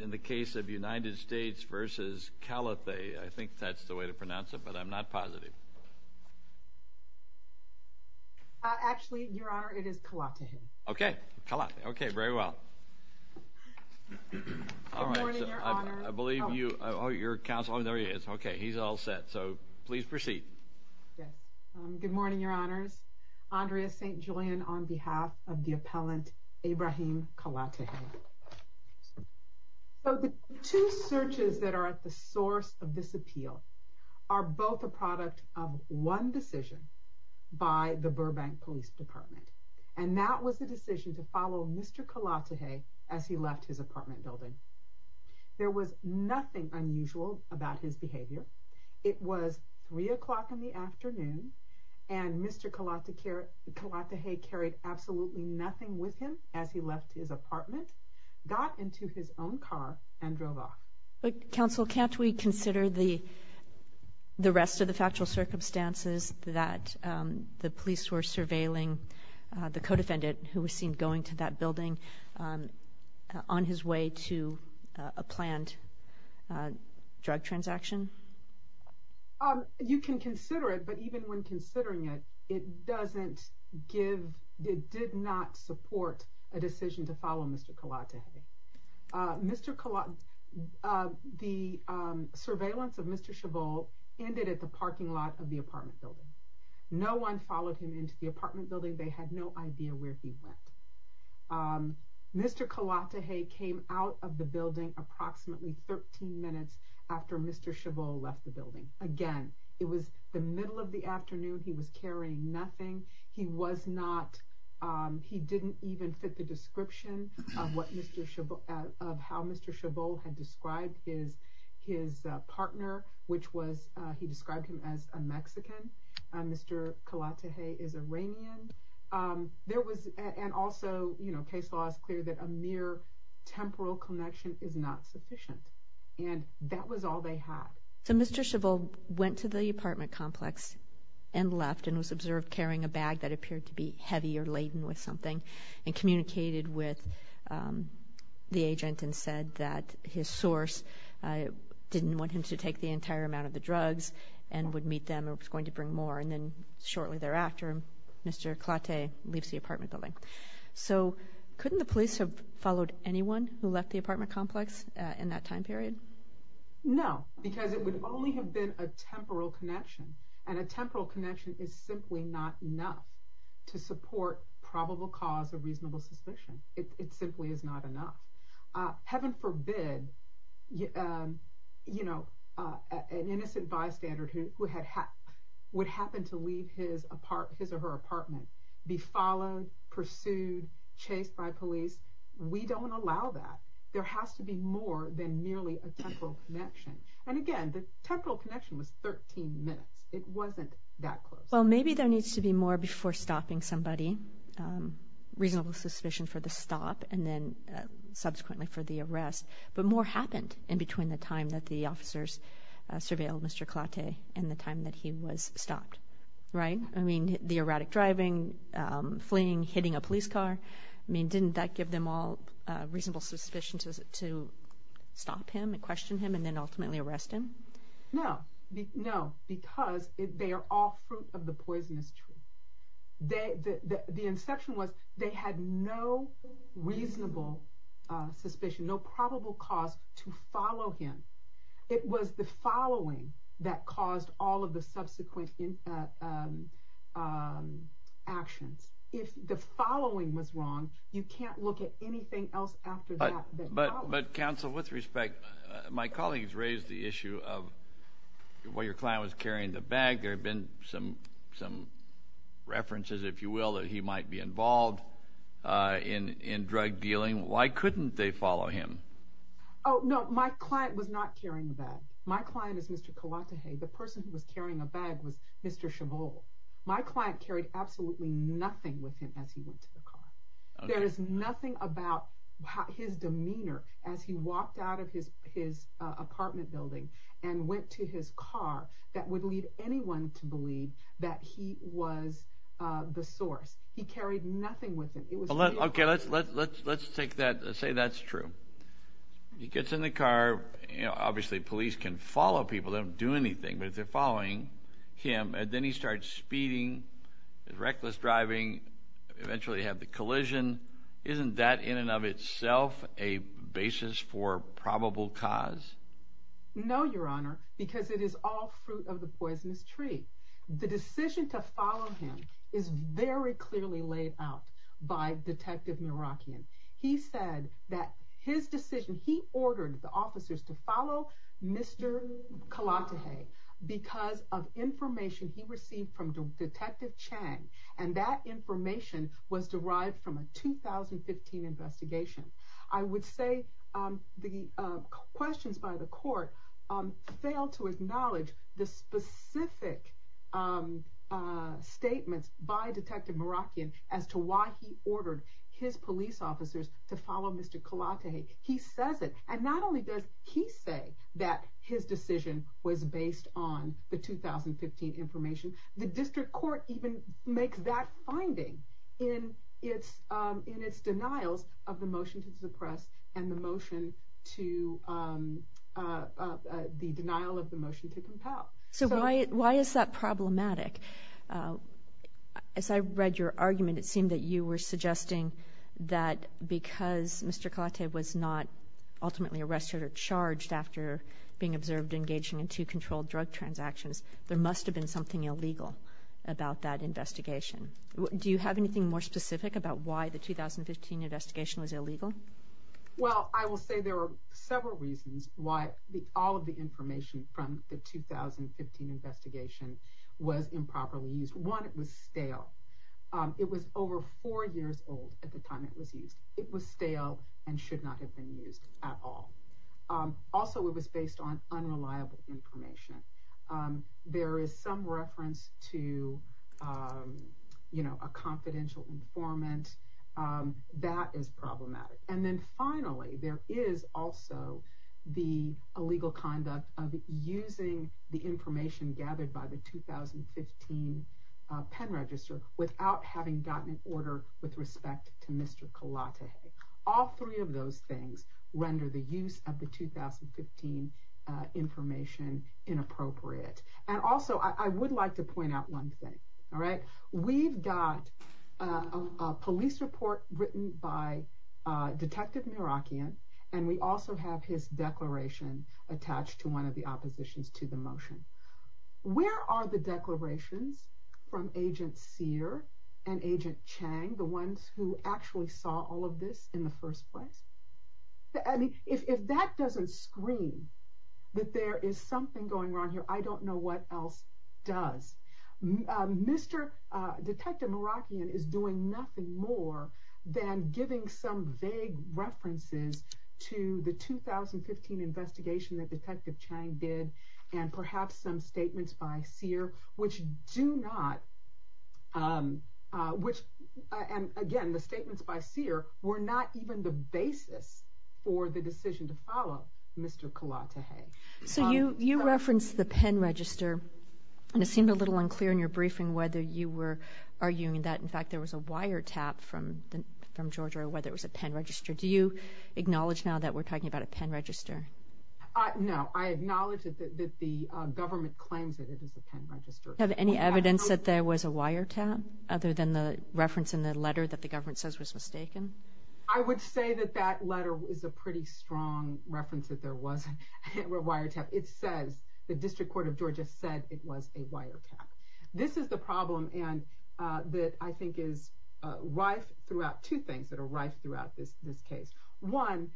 In the case of United States v. Kalatehe, I think that's the way to pronounce it, but I'm not positive. Actually, Your Honor, it is Kalatehe. Okay. Kalatehe. Okay, very well. Good morning, Your Honor. I believe you, oh, your counsel, oh, there he is. Okay, he's all set. So, please proceed. Yes. Good morning, Your Honors. Andrea St. Julian on behalf of the appellant Ebrahim Kalatehe. So, the two searches that are at the source of this appeal are both a product of one decision by the Burbank Police Department. And that was the decision to follow Mr. Kalatehe as he left his apartment building. There was nothing unusual about his behavior. It was 3 o'clock in the afternoon, and Mr. Kalatehe carried absolutely nothing with him as he left his apartment, got into his own car, and drove off. But, counsel, can't we consider the rest of the factual circumstances that the police were surveilling the co-defendant, who was seen going to that building on his way to a planned drug transaction? You can consider it, but even when considering it, it doesn't give, it did not support a decision to follow Mr. Kalatehe. Mr. Kalatehe, the surveillance of Mr. Chabot ended at the parking lot of the apartment building. No one followed him into the apartment building. They had no idea where he went. Mr. Kalatehe came out of the building approximately 13 minutes after Mr. Chabot left the building. Again, it was the middle of the afternoon. He was carrying nothing. He was not, he didn't even fit the description of what Mr. Chabot, of how Mr. Chabot had described his partner, which was he described him as a Mexican. Mr. Kalatehe is Iranian. There was, and also, you know, case law is clear that a mere temporal connection is not sufficient, and that was all they had. So Mr. Chabot went to the apartment complex and left and was observed carrying a bag that appeared to be heavy or laden with something and communicated with the agent and said that his source didn't want him to take the entire amount of the drugs and would meet them or was going to bring more. And then shortly thereafter, Mr. Kalatehe leaves the apartment building. So couldn't the police have followed anyone who left the apartment complex in that time period? No, because it would only have been a temporal connection, and a temporal connection is simply not enough to support probable cause of reasonable suspicion. It simply is not enough. Heaven forbid, you know, an innocent bystander who would happen to leave his or her apartment be followed, pursued, chased by police. We don't allow that. There has to be more than merely a temporal connection. And again, the temporal connection was 13 minutes. It wasn't that close. Well, maybe there needs to be more before stopping somebody, reasonable suspicion for the stop and then subsequently for the arrest. But more happened in between the time that the officers surveilled Mr. Kalatehe and the time that he was stopped, right? I mean, the erratic driving, fleeing, hitting a police car. I mean, didn't that give them all reasonable suspicion to stop him and question him and then ultimately arrest him? No, because they are all fruit of the poisonous tree. The inception was they had no reasonable suspicion, no probable cause to follow him. It was the following that caused all of the subsequent actions. If the following was wrong, you can't look at anything else after that. But counsel, with respect, my colleagues raised the issue of why your client was carrying the bag. There have been some references, if you will, that he might be involved in drug dealing. Why couldn't they follow him? Oh, no. My client was not carrying the bag. My client is Mr. Kalatehe. The person who was carrying the bag was Mr. Chabot. My client carried absolutely nothing with him as he went to the car. There is nothing about his demeanor as he walked out of his apartment building and went to his car that would lead anyone to believe that he was the source. He carried nothing with him. Okay, let's say that's true. He gets in the car. Obviously, police can follow people. They don't do anything. But if they're following him and then he starts speeding, reckless driving, eventually have the collision, isn't that in and of itself a basis for probable cause? No, Your Honor, because it is all fruit of the poisonous tree. The decision to follow him is very clearly laid out by Detective Merakian. He said that his decision, he ordered the officers to follow Mr. Kalatehe because of information he received from Detective Chang. And that information was derived from a 2015 investigation. I would say the questions by the court fail to acknowledge the specific statements by Detective Merakian as to why he ordered his police officers to follow Mr. Kalatehe. He says it. And not only does he say that his decision was based on the 2015 information, the district court even makes that finding in its denials of the motion to suppress and the denial of the motion to compel. So why is that problematic? As I read your argument, it seemed that you were suggesting that because Mr. Kalatehe was not ultimately arrested or charged after being observed engaging in two controlled drug transactions, there must have been something illegal about that investigation. Do you have anything more specific about why the 2015 investigation was illegal? Well, I will say there are several reasons why all of the information from the 2015 investigation was improperly used. One, it was stale. It was over four years old at the time it was used. It was stale and should not have been used at all. Also, it was based on unreliable information. There is some reference to a confidential informant. That is problematic. And then finally, there is also the illegal conduct of using the information gathered by the 2015 pen register without having gotten an order with respect to Mr. Kalatehe. All three of those things render the use of the 2015 information inappropriate. And also, I would like to point out one thing. We've got a police report written by Detective Merakian, and we also have his declaration attached to one of the oppositions to the motion. Where are the declarations from Agent Sear and Agent Chang, the ones who actually saw all of this in the first place? If that doesn't scream that there is something going on here, I don't know what else does. Detective Merakian is doing nothing more than giving some vague references to the 2015 investigation that Detective Chang did, and perhaps some statements by Sear, which do not... Again, the statements by Sear were not even the basis for the decision to follow Mr. Kalatehe. So you referenced the pen register, and it seemed a little unclear in your briefing whether you were arguing that, in fact, there was a wiretap from Georgia, or whether it was a pen register. Do you acknowledge now that we're talking about a pen register? No, I acknowledge that the government claims that it is a pen register. Do you have any evidence that there was a wiretap, other than the reference in the letter that the government says was mistaken? I would say that that letter is a pretty strong reference that there was a wiretap. It says the District Court of Georgia said it was a wiretap. This is the problem that I think is rife throughout two things that are rife throughout this case. One,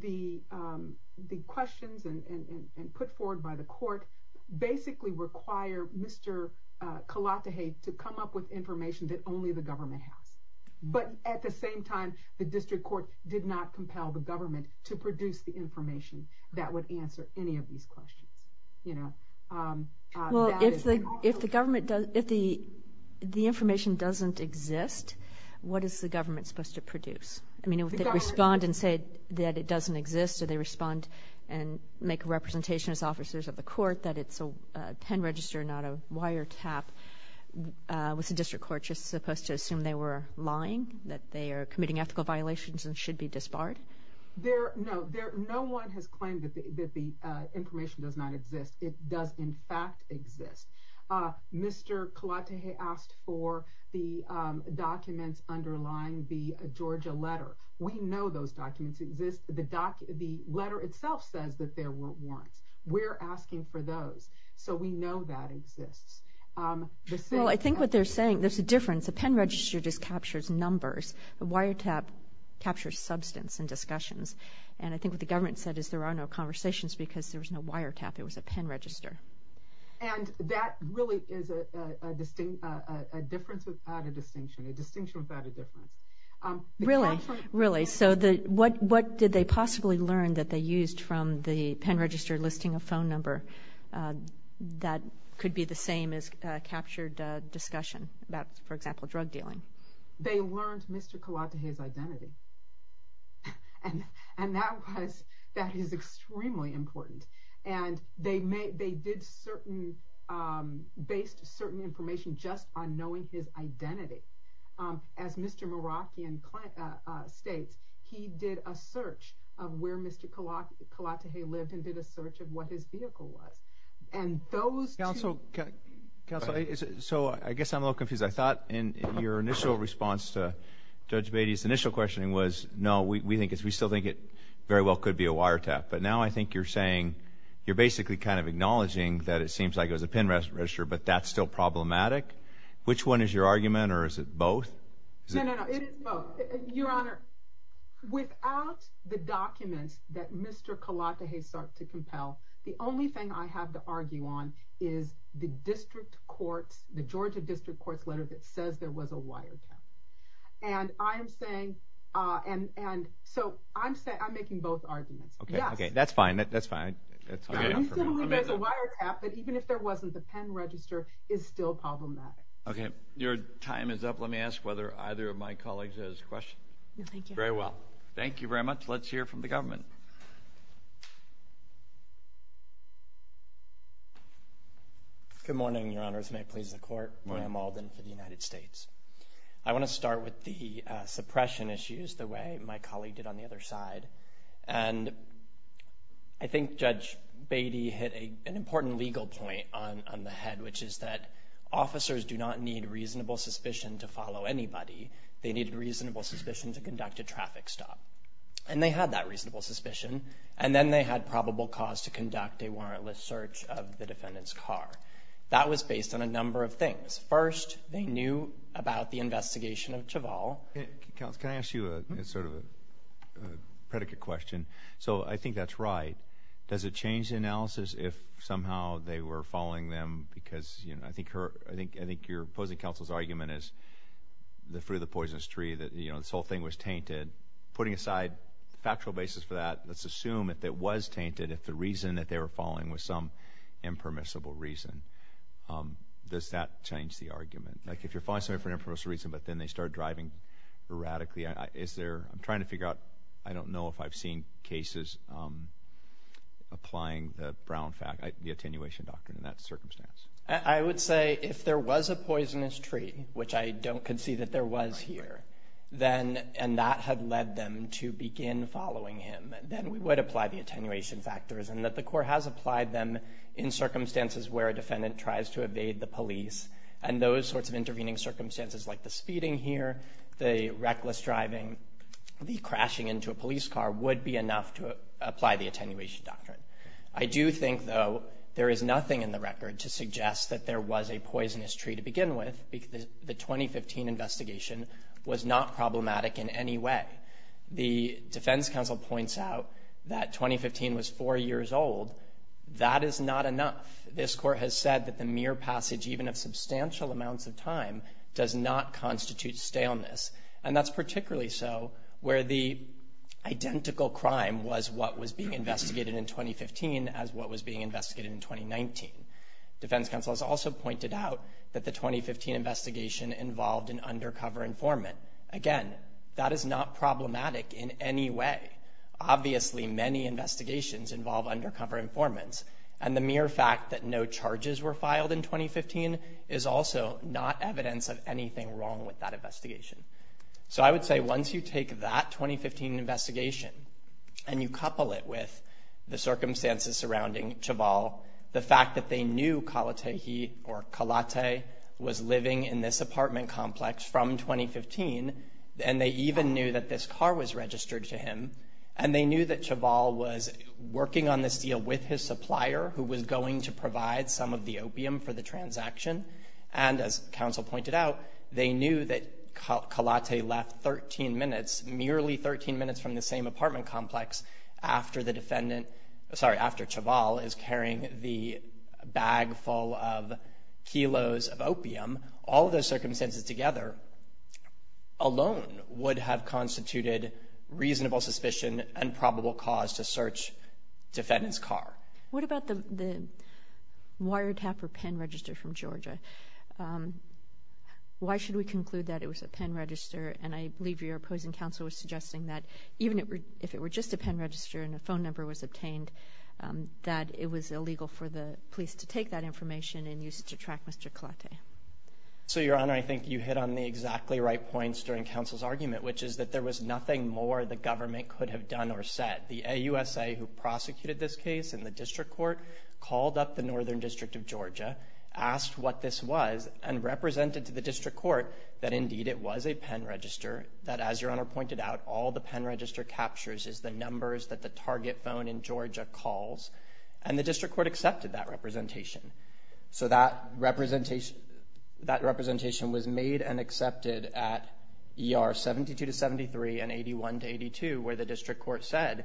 the questions put forward by the court basically require Mr. Kalatehe to come up with information that only the government has. But at the same time, the district court did not compel the government to produce the information that would answer any of these questions. Well, if the information doesn't exist, what is the government supposed to produce? I mean, if they respond and say that it doesn't exist, or they respond and make a representation as officers of the court that it's a pen register, not a wiretap, was the district court just supposed to assume they were lying, that they are committing ethical violations and should be disbarred? No, no one has claimed that the information does not exist. It does, in fact, exist. Mr. Kalatehe asked for the documents underlying the Georgia letter. We know those documents exist. The letter itself says that there were warrants. We're asking for those, so we know that exists. Well, I think what they're saying, there's a difference. A pen register just captures numbers. A wiretap captures substance and discussions. And I think what the government said is there are no conversations because there was no wiretap, it was a pen register. And that really is a distinction without a distinction, a distinction without a difference. Really? So what did they possibly learn that they used from the pen register listing a phone number that could be the same as captured discussion about, for example, drug dealing? They learned Mr. Kalatehe's identity. And that is extremely important. And they did certain, based certain information just on knowing his identity. As Mr. Meraki states, he did a search of where Mr. Kalatehe lived and did a search of what his vehicle was. And those two- Counsel, so I guess I'm a little confused. I thought in your initial response to Judge Beatty's initial questioning was, no, we still think it very well could be a wiretap. But now I think you're saying, you're basically kind of acknowledging that it seems like it was a pen register, but that's still problematic. Which one is your argument, or is it both? No, no, no, it is both. Your Honor, without the documents that Mr. Kalatehe sought to compel, the only thing I have to argue on is the district court's, the Georgia district court's letter that says there was a wiretap. And I am saying, and so I'm making both arguments. Okay, okay, that's fine, that's fine. I still believe there's a wiretap, but even if there wasn't, the pen register is still problematic. Okay, your time is up. Let me ask whether either of my colleagues has questions. No, thank you. Very well. Thank you very much. Let's hear from the government. Good morning, Your Honors. May it please the Court. Good morning. I'm Alden for the United States. I want to start with the suppression issues, the way my colleague did on the other side. And I think Judge Beatty hit an important legal point on the head, which is that officers do not need reasonable suspicion to follow anybody. They needed reasonable suspicion to conduct a traffic stop. And they had that reasonable suspicion. And then they had probable cause to conduct a warrantless search of the defendant's car. That was based on a number of things. First, they knew about the investigation of Chavall. Counsel, can I ask you sort of a predicate question? So I think that's right. Does it change the analysis if somehow they were following them because, you know, I think your opposing counsel's argument is the fruit of the poisonous tree, that, you know, this whole thing was tainted. Putting aside the factual basis for that, let's assume that it was tainted if the reason that they were following was some impermissible reason. Does that change the argument? Like if you're following somebody for an impermissible reason but then they start driving erratically, is there ‑‑ I'm trying to figure out. I don't know if I've seen cases applying the brown fact, the attenuation doctrine in that circumstance. I would say if there was a poisonous tree, which I don't concede that there was here, and that had led them to begin following him, then we would apply the attenuation factors and that the court has applied them in circumstances where a defendant tries to evade the police and those sorts of intervening circumstances like the speeding here, the reckless driving, the crashing into a police car would be enough to apply the attenuation doctrine. I do think, though, there is nothing in the record to suggest that there was a poisonous tree to begin with because the 2015 investigation was not problematic in any way. The defense counsel points out that 2015 was four years old. That is not enough. This court has said that the mere passage even of substantial amounts of time does not constitute staleness, and that's particularly so where the identical crime was what was being investigated in 2015 as what was being investigated in 2019. Defense counsel has also pointed out that the 2015 investigation involved an undercover informant. Again, that is not problematic in any way. Obviously, many investigations involve undercover informants, and the mere fact that no charges were filed in 2015 is also not evidence of anything wrong with that investigation. So I would say once you take that 2015 investigation and you couple it with the circumstances surrounding Chabal, the fact that they knew Kalate or Kalate was living in this apartment complex from 2015, and they even knew that this car was registered to him, and they knew that Chabal was working on this deal with his supplier who was going to provide some of the opium for the transaction, and as counsel pointed out, they knew that Kalate left 13 minutes, merely 13 minutes from the same apartment complex after the defendant — sorry, after Chabal is carrying the bag full of kilos of opium, all of those circumstances together alone would have constituted reasonable suspicion and probable cause to search defendant's car. What about the wiretap or pen register from Georgia? Why should we conclude that it was a pen register? And I believe your opposing counsel was suggesting that even if it were just a pen register and a phone number was obtained, that it was illegal for the police to take that information and use it to track Mr. Kalate. So, Your Honor, I think you hit on the exactly right points during counsel's argument, which is that there was nothing more the government could have done or said. The AUSA who prosecuted this case in the district court called up the Northern District of Georgia, asked what this was, and represented to the district court that, indeed, it was a pen register, that, as Your Honor pointed out, all the pen register captures is the numbers that the target phone in Georgia calls, and the district court accepted that representation. So that representation was made and accepted at ER 72 to 73 and 81 to 82, where the district court said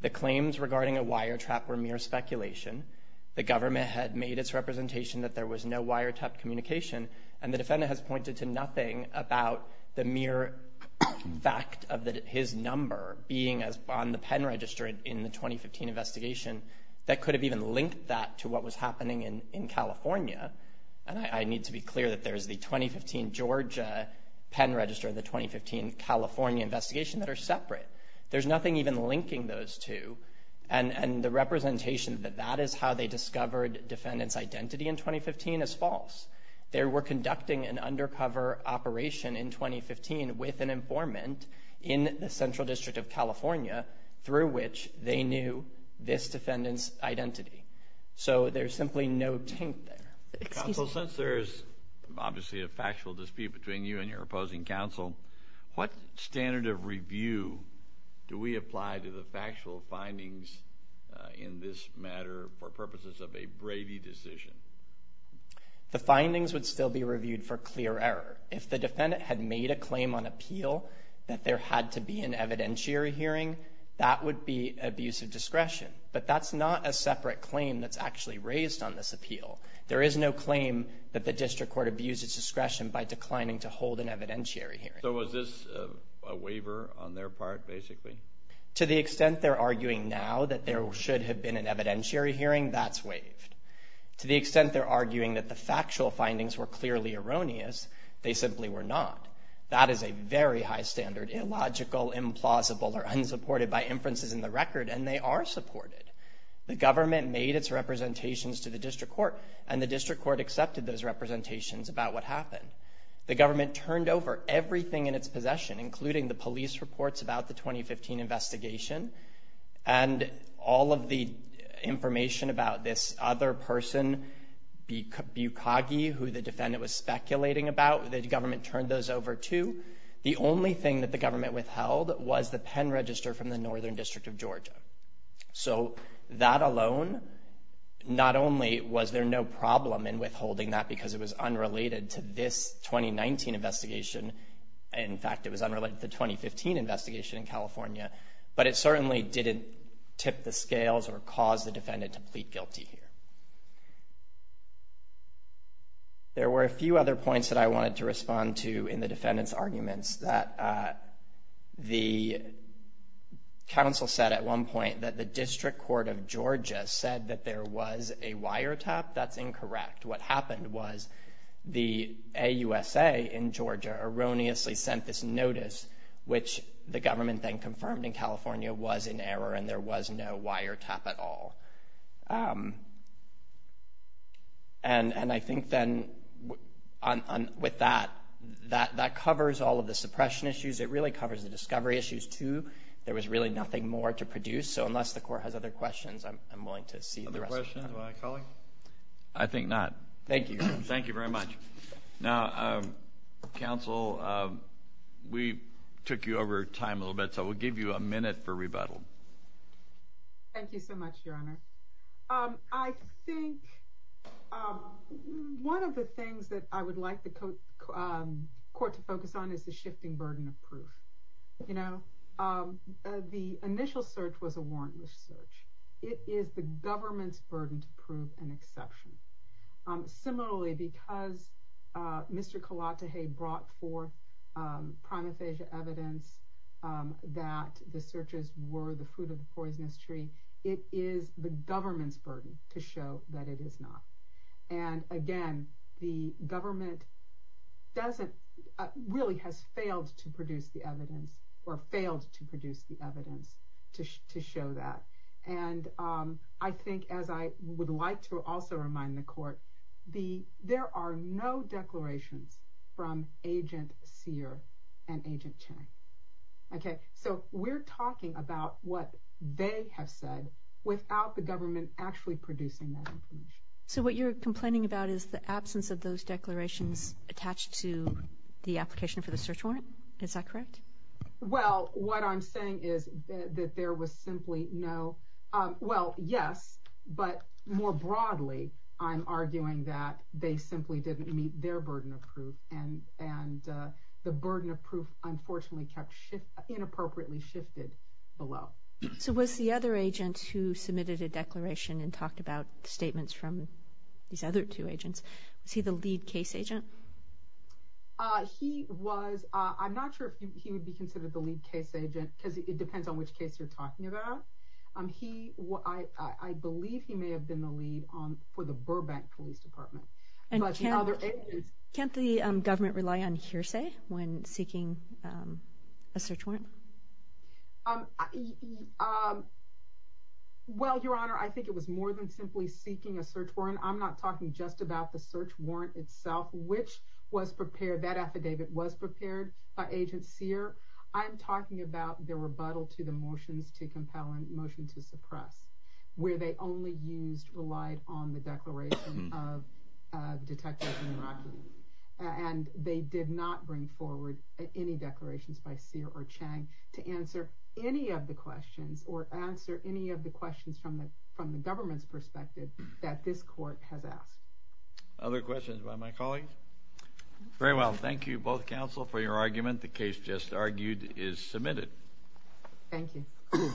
the claims regarding a wiretap were mere speculation, the government had made its representation that there was no wiretap communication, and the defendant has pointed to nothing about the mere fact of his number being on the pen register in the 2015 investigation that could have even linked that to what was happening in California. And I need to be clear that there is the 2015 Georgia pen register and the 2015 California investigation that are separate. There's nothing even linking those two, and the representation that that is how they discovered defendants' identity in 2015 is false. They were conducting an undercover operation in 2015 with an informant in the Central District of California through which they knew this defendant's identity. So there's simply no taint there. Counsel, since there is obviously a factual dispute between you and your opposing counsel, what standard of review do we apply to the factual findings in this matter for purposes of a Brady decision? The findings would still be reviewed for clear error. If the defendant had made a claim on appeal that there had to be an evidentiary hearing, that would be abuse of discretion. But that's not a separate claim that's actually raised on this appeal. There is no claim that the district court abused its discretion by declining to hold an evidentiary hearing. So was this a waiver on their part, basically? To the extent they're arguing now that there should have been an evidentiary hearing, that's waived. To the extent they're arguing that the factual findings were clearly erroneous, they simply were not. That is a very high standard, illogical, implausible, or unsupported by inferences in the record, and they are supported. The government made its representations to the district court, and the district court accepted those representations about what happened. The government turned over everything in its possession, including the police reports about the 2015 investigation and all of the information about this other person, Bukagi, who the defendant was speculating about. The government turned those over, too. The only thing that the government withheld was the pen register from the Northern District of Georgia. So that alone, not only was there no problem in withholding that because it was unrelated to this 2019 investigation, in fact, it was unrelated to the 2015 investigation in California, but it certainly didn't tip the scales or cause the defendant to plead guilty here. There were a few other points that I wanted to respond to in the defendant's arguments. The counsel said at one point that the District Court of Georgia said that there was a wiretap. That's incorrect. In fact, what happened was the AUSA in Georgia erroneously sent this notice, which the government then confirmed in California was in error and there was no wiretap at all. And I think then with that, that covers all of the suppression issues. It really covers the discovery issues, too. There was really nothing more to produce. So unless the court has other questions, I'm willing to see the rest of the time. I think not. Thank you. Thank you very much. Now, counsel, we took you over time a little bit, so we'll give you a minute for rebuttal. Thank you so much, Your Honor. I think one of the things that I would like the court to focus on is the shifting burden of proof. The initial search was a warrantless search. It is the government's burden to prove an exception. Similarly, because Mr. Kalatahaye brought forth primophagia evidence that the searches were the fruit of the poisonous tree, it is the government's burden to show that it is not. And again, the government really has failed to produce the evidence or failed to produce the evidence to show that. And I think, as I would like to also remind the court, there are no declarations from Agent Sear and Agent Chang. Okay? So we're talking about what they have said without the government actually producing that information. So what you're complaining about is the absence of those declarations attached to the application for the search warrant? Is that correct? Well, what I'm saying is that there was simply no—well, yes, but more broadly, I'm arguing that they simply didn't meet their burden of proof, and the burden of proof, unfortunately, kept inappropriately shifted below. So was the other agent who submitted a declaration and talked about statements from these other two agents, was he the lead case agent? He was—I'm not sure if he would be considered the lead case agent, because it depends on which case you're talking about. He—I believe he may have been the lead for the Burbank Police Department. And can't the government rely on hearsay when seeking a search warrant? Well, Your Honor, I think it was more than simply seeking a search warrant. Again, I'm not talking just about the search warrant itself, which was prepared—that affidavit was prepared by Agent Sear. I'm talking about the rebuttal to the motions to compel and motion to suppress, where they only used—relied on the declaration of Detective Jim Rocky. And they did not bring forward any declarations by Sear or Chang to answer any of the questions or answer any of the questions from the government's perspective that this court has asked. Other questions by my colleagues? Very well. Thank you, both counsel, for your argument. The case just argued is submitted. Thank you.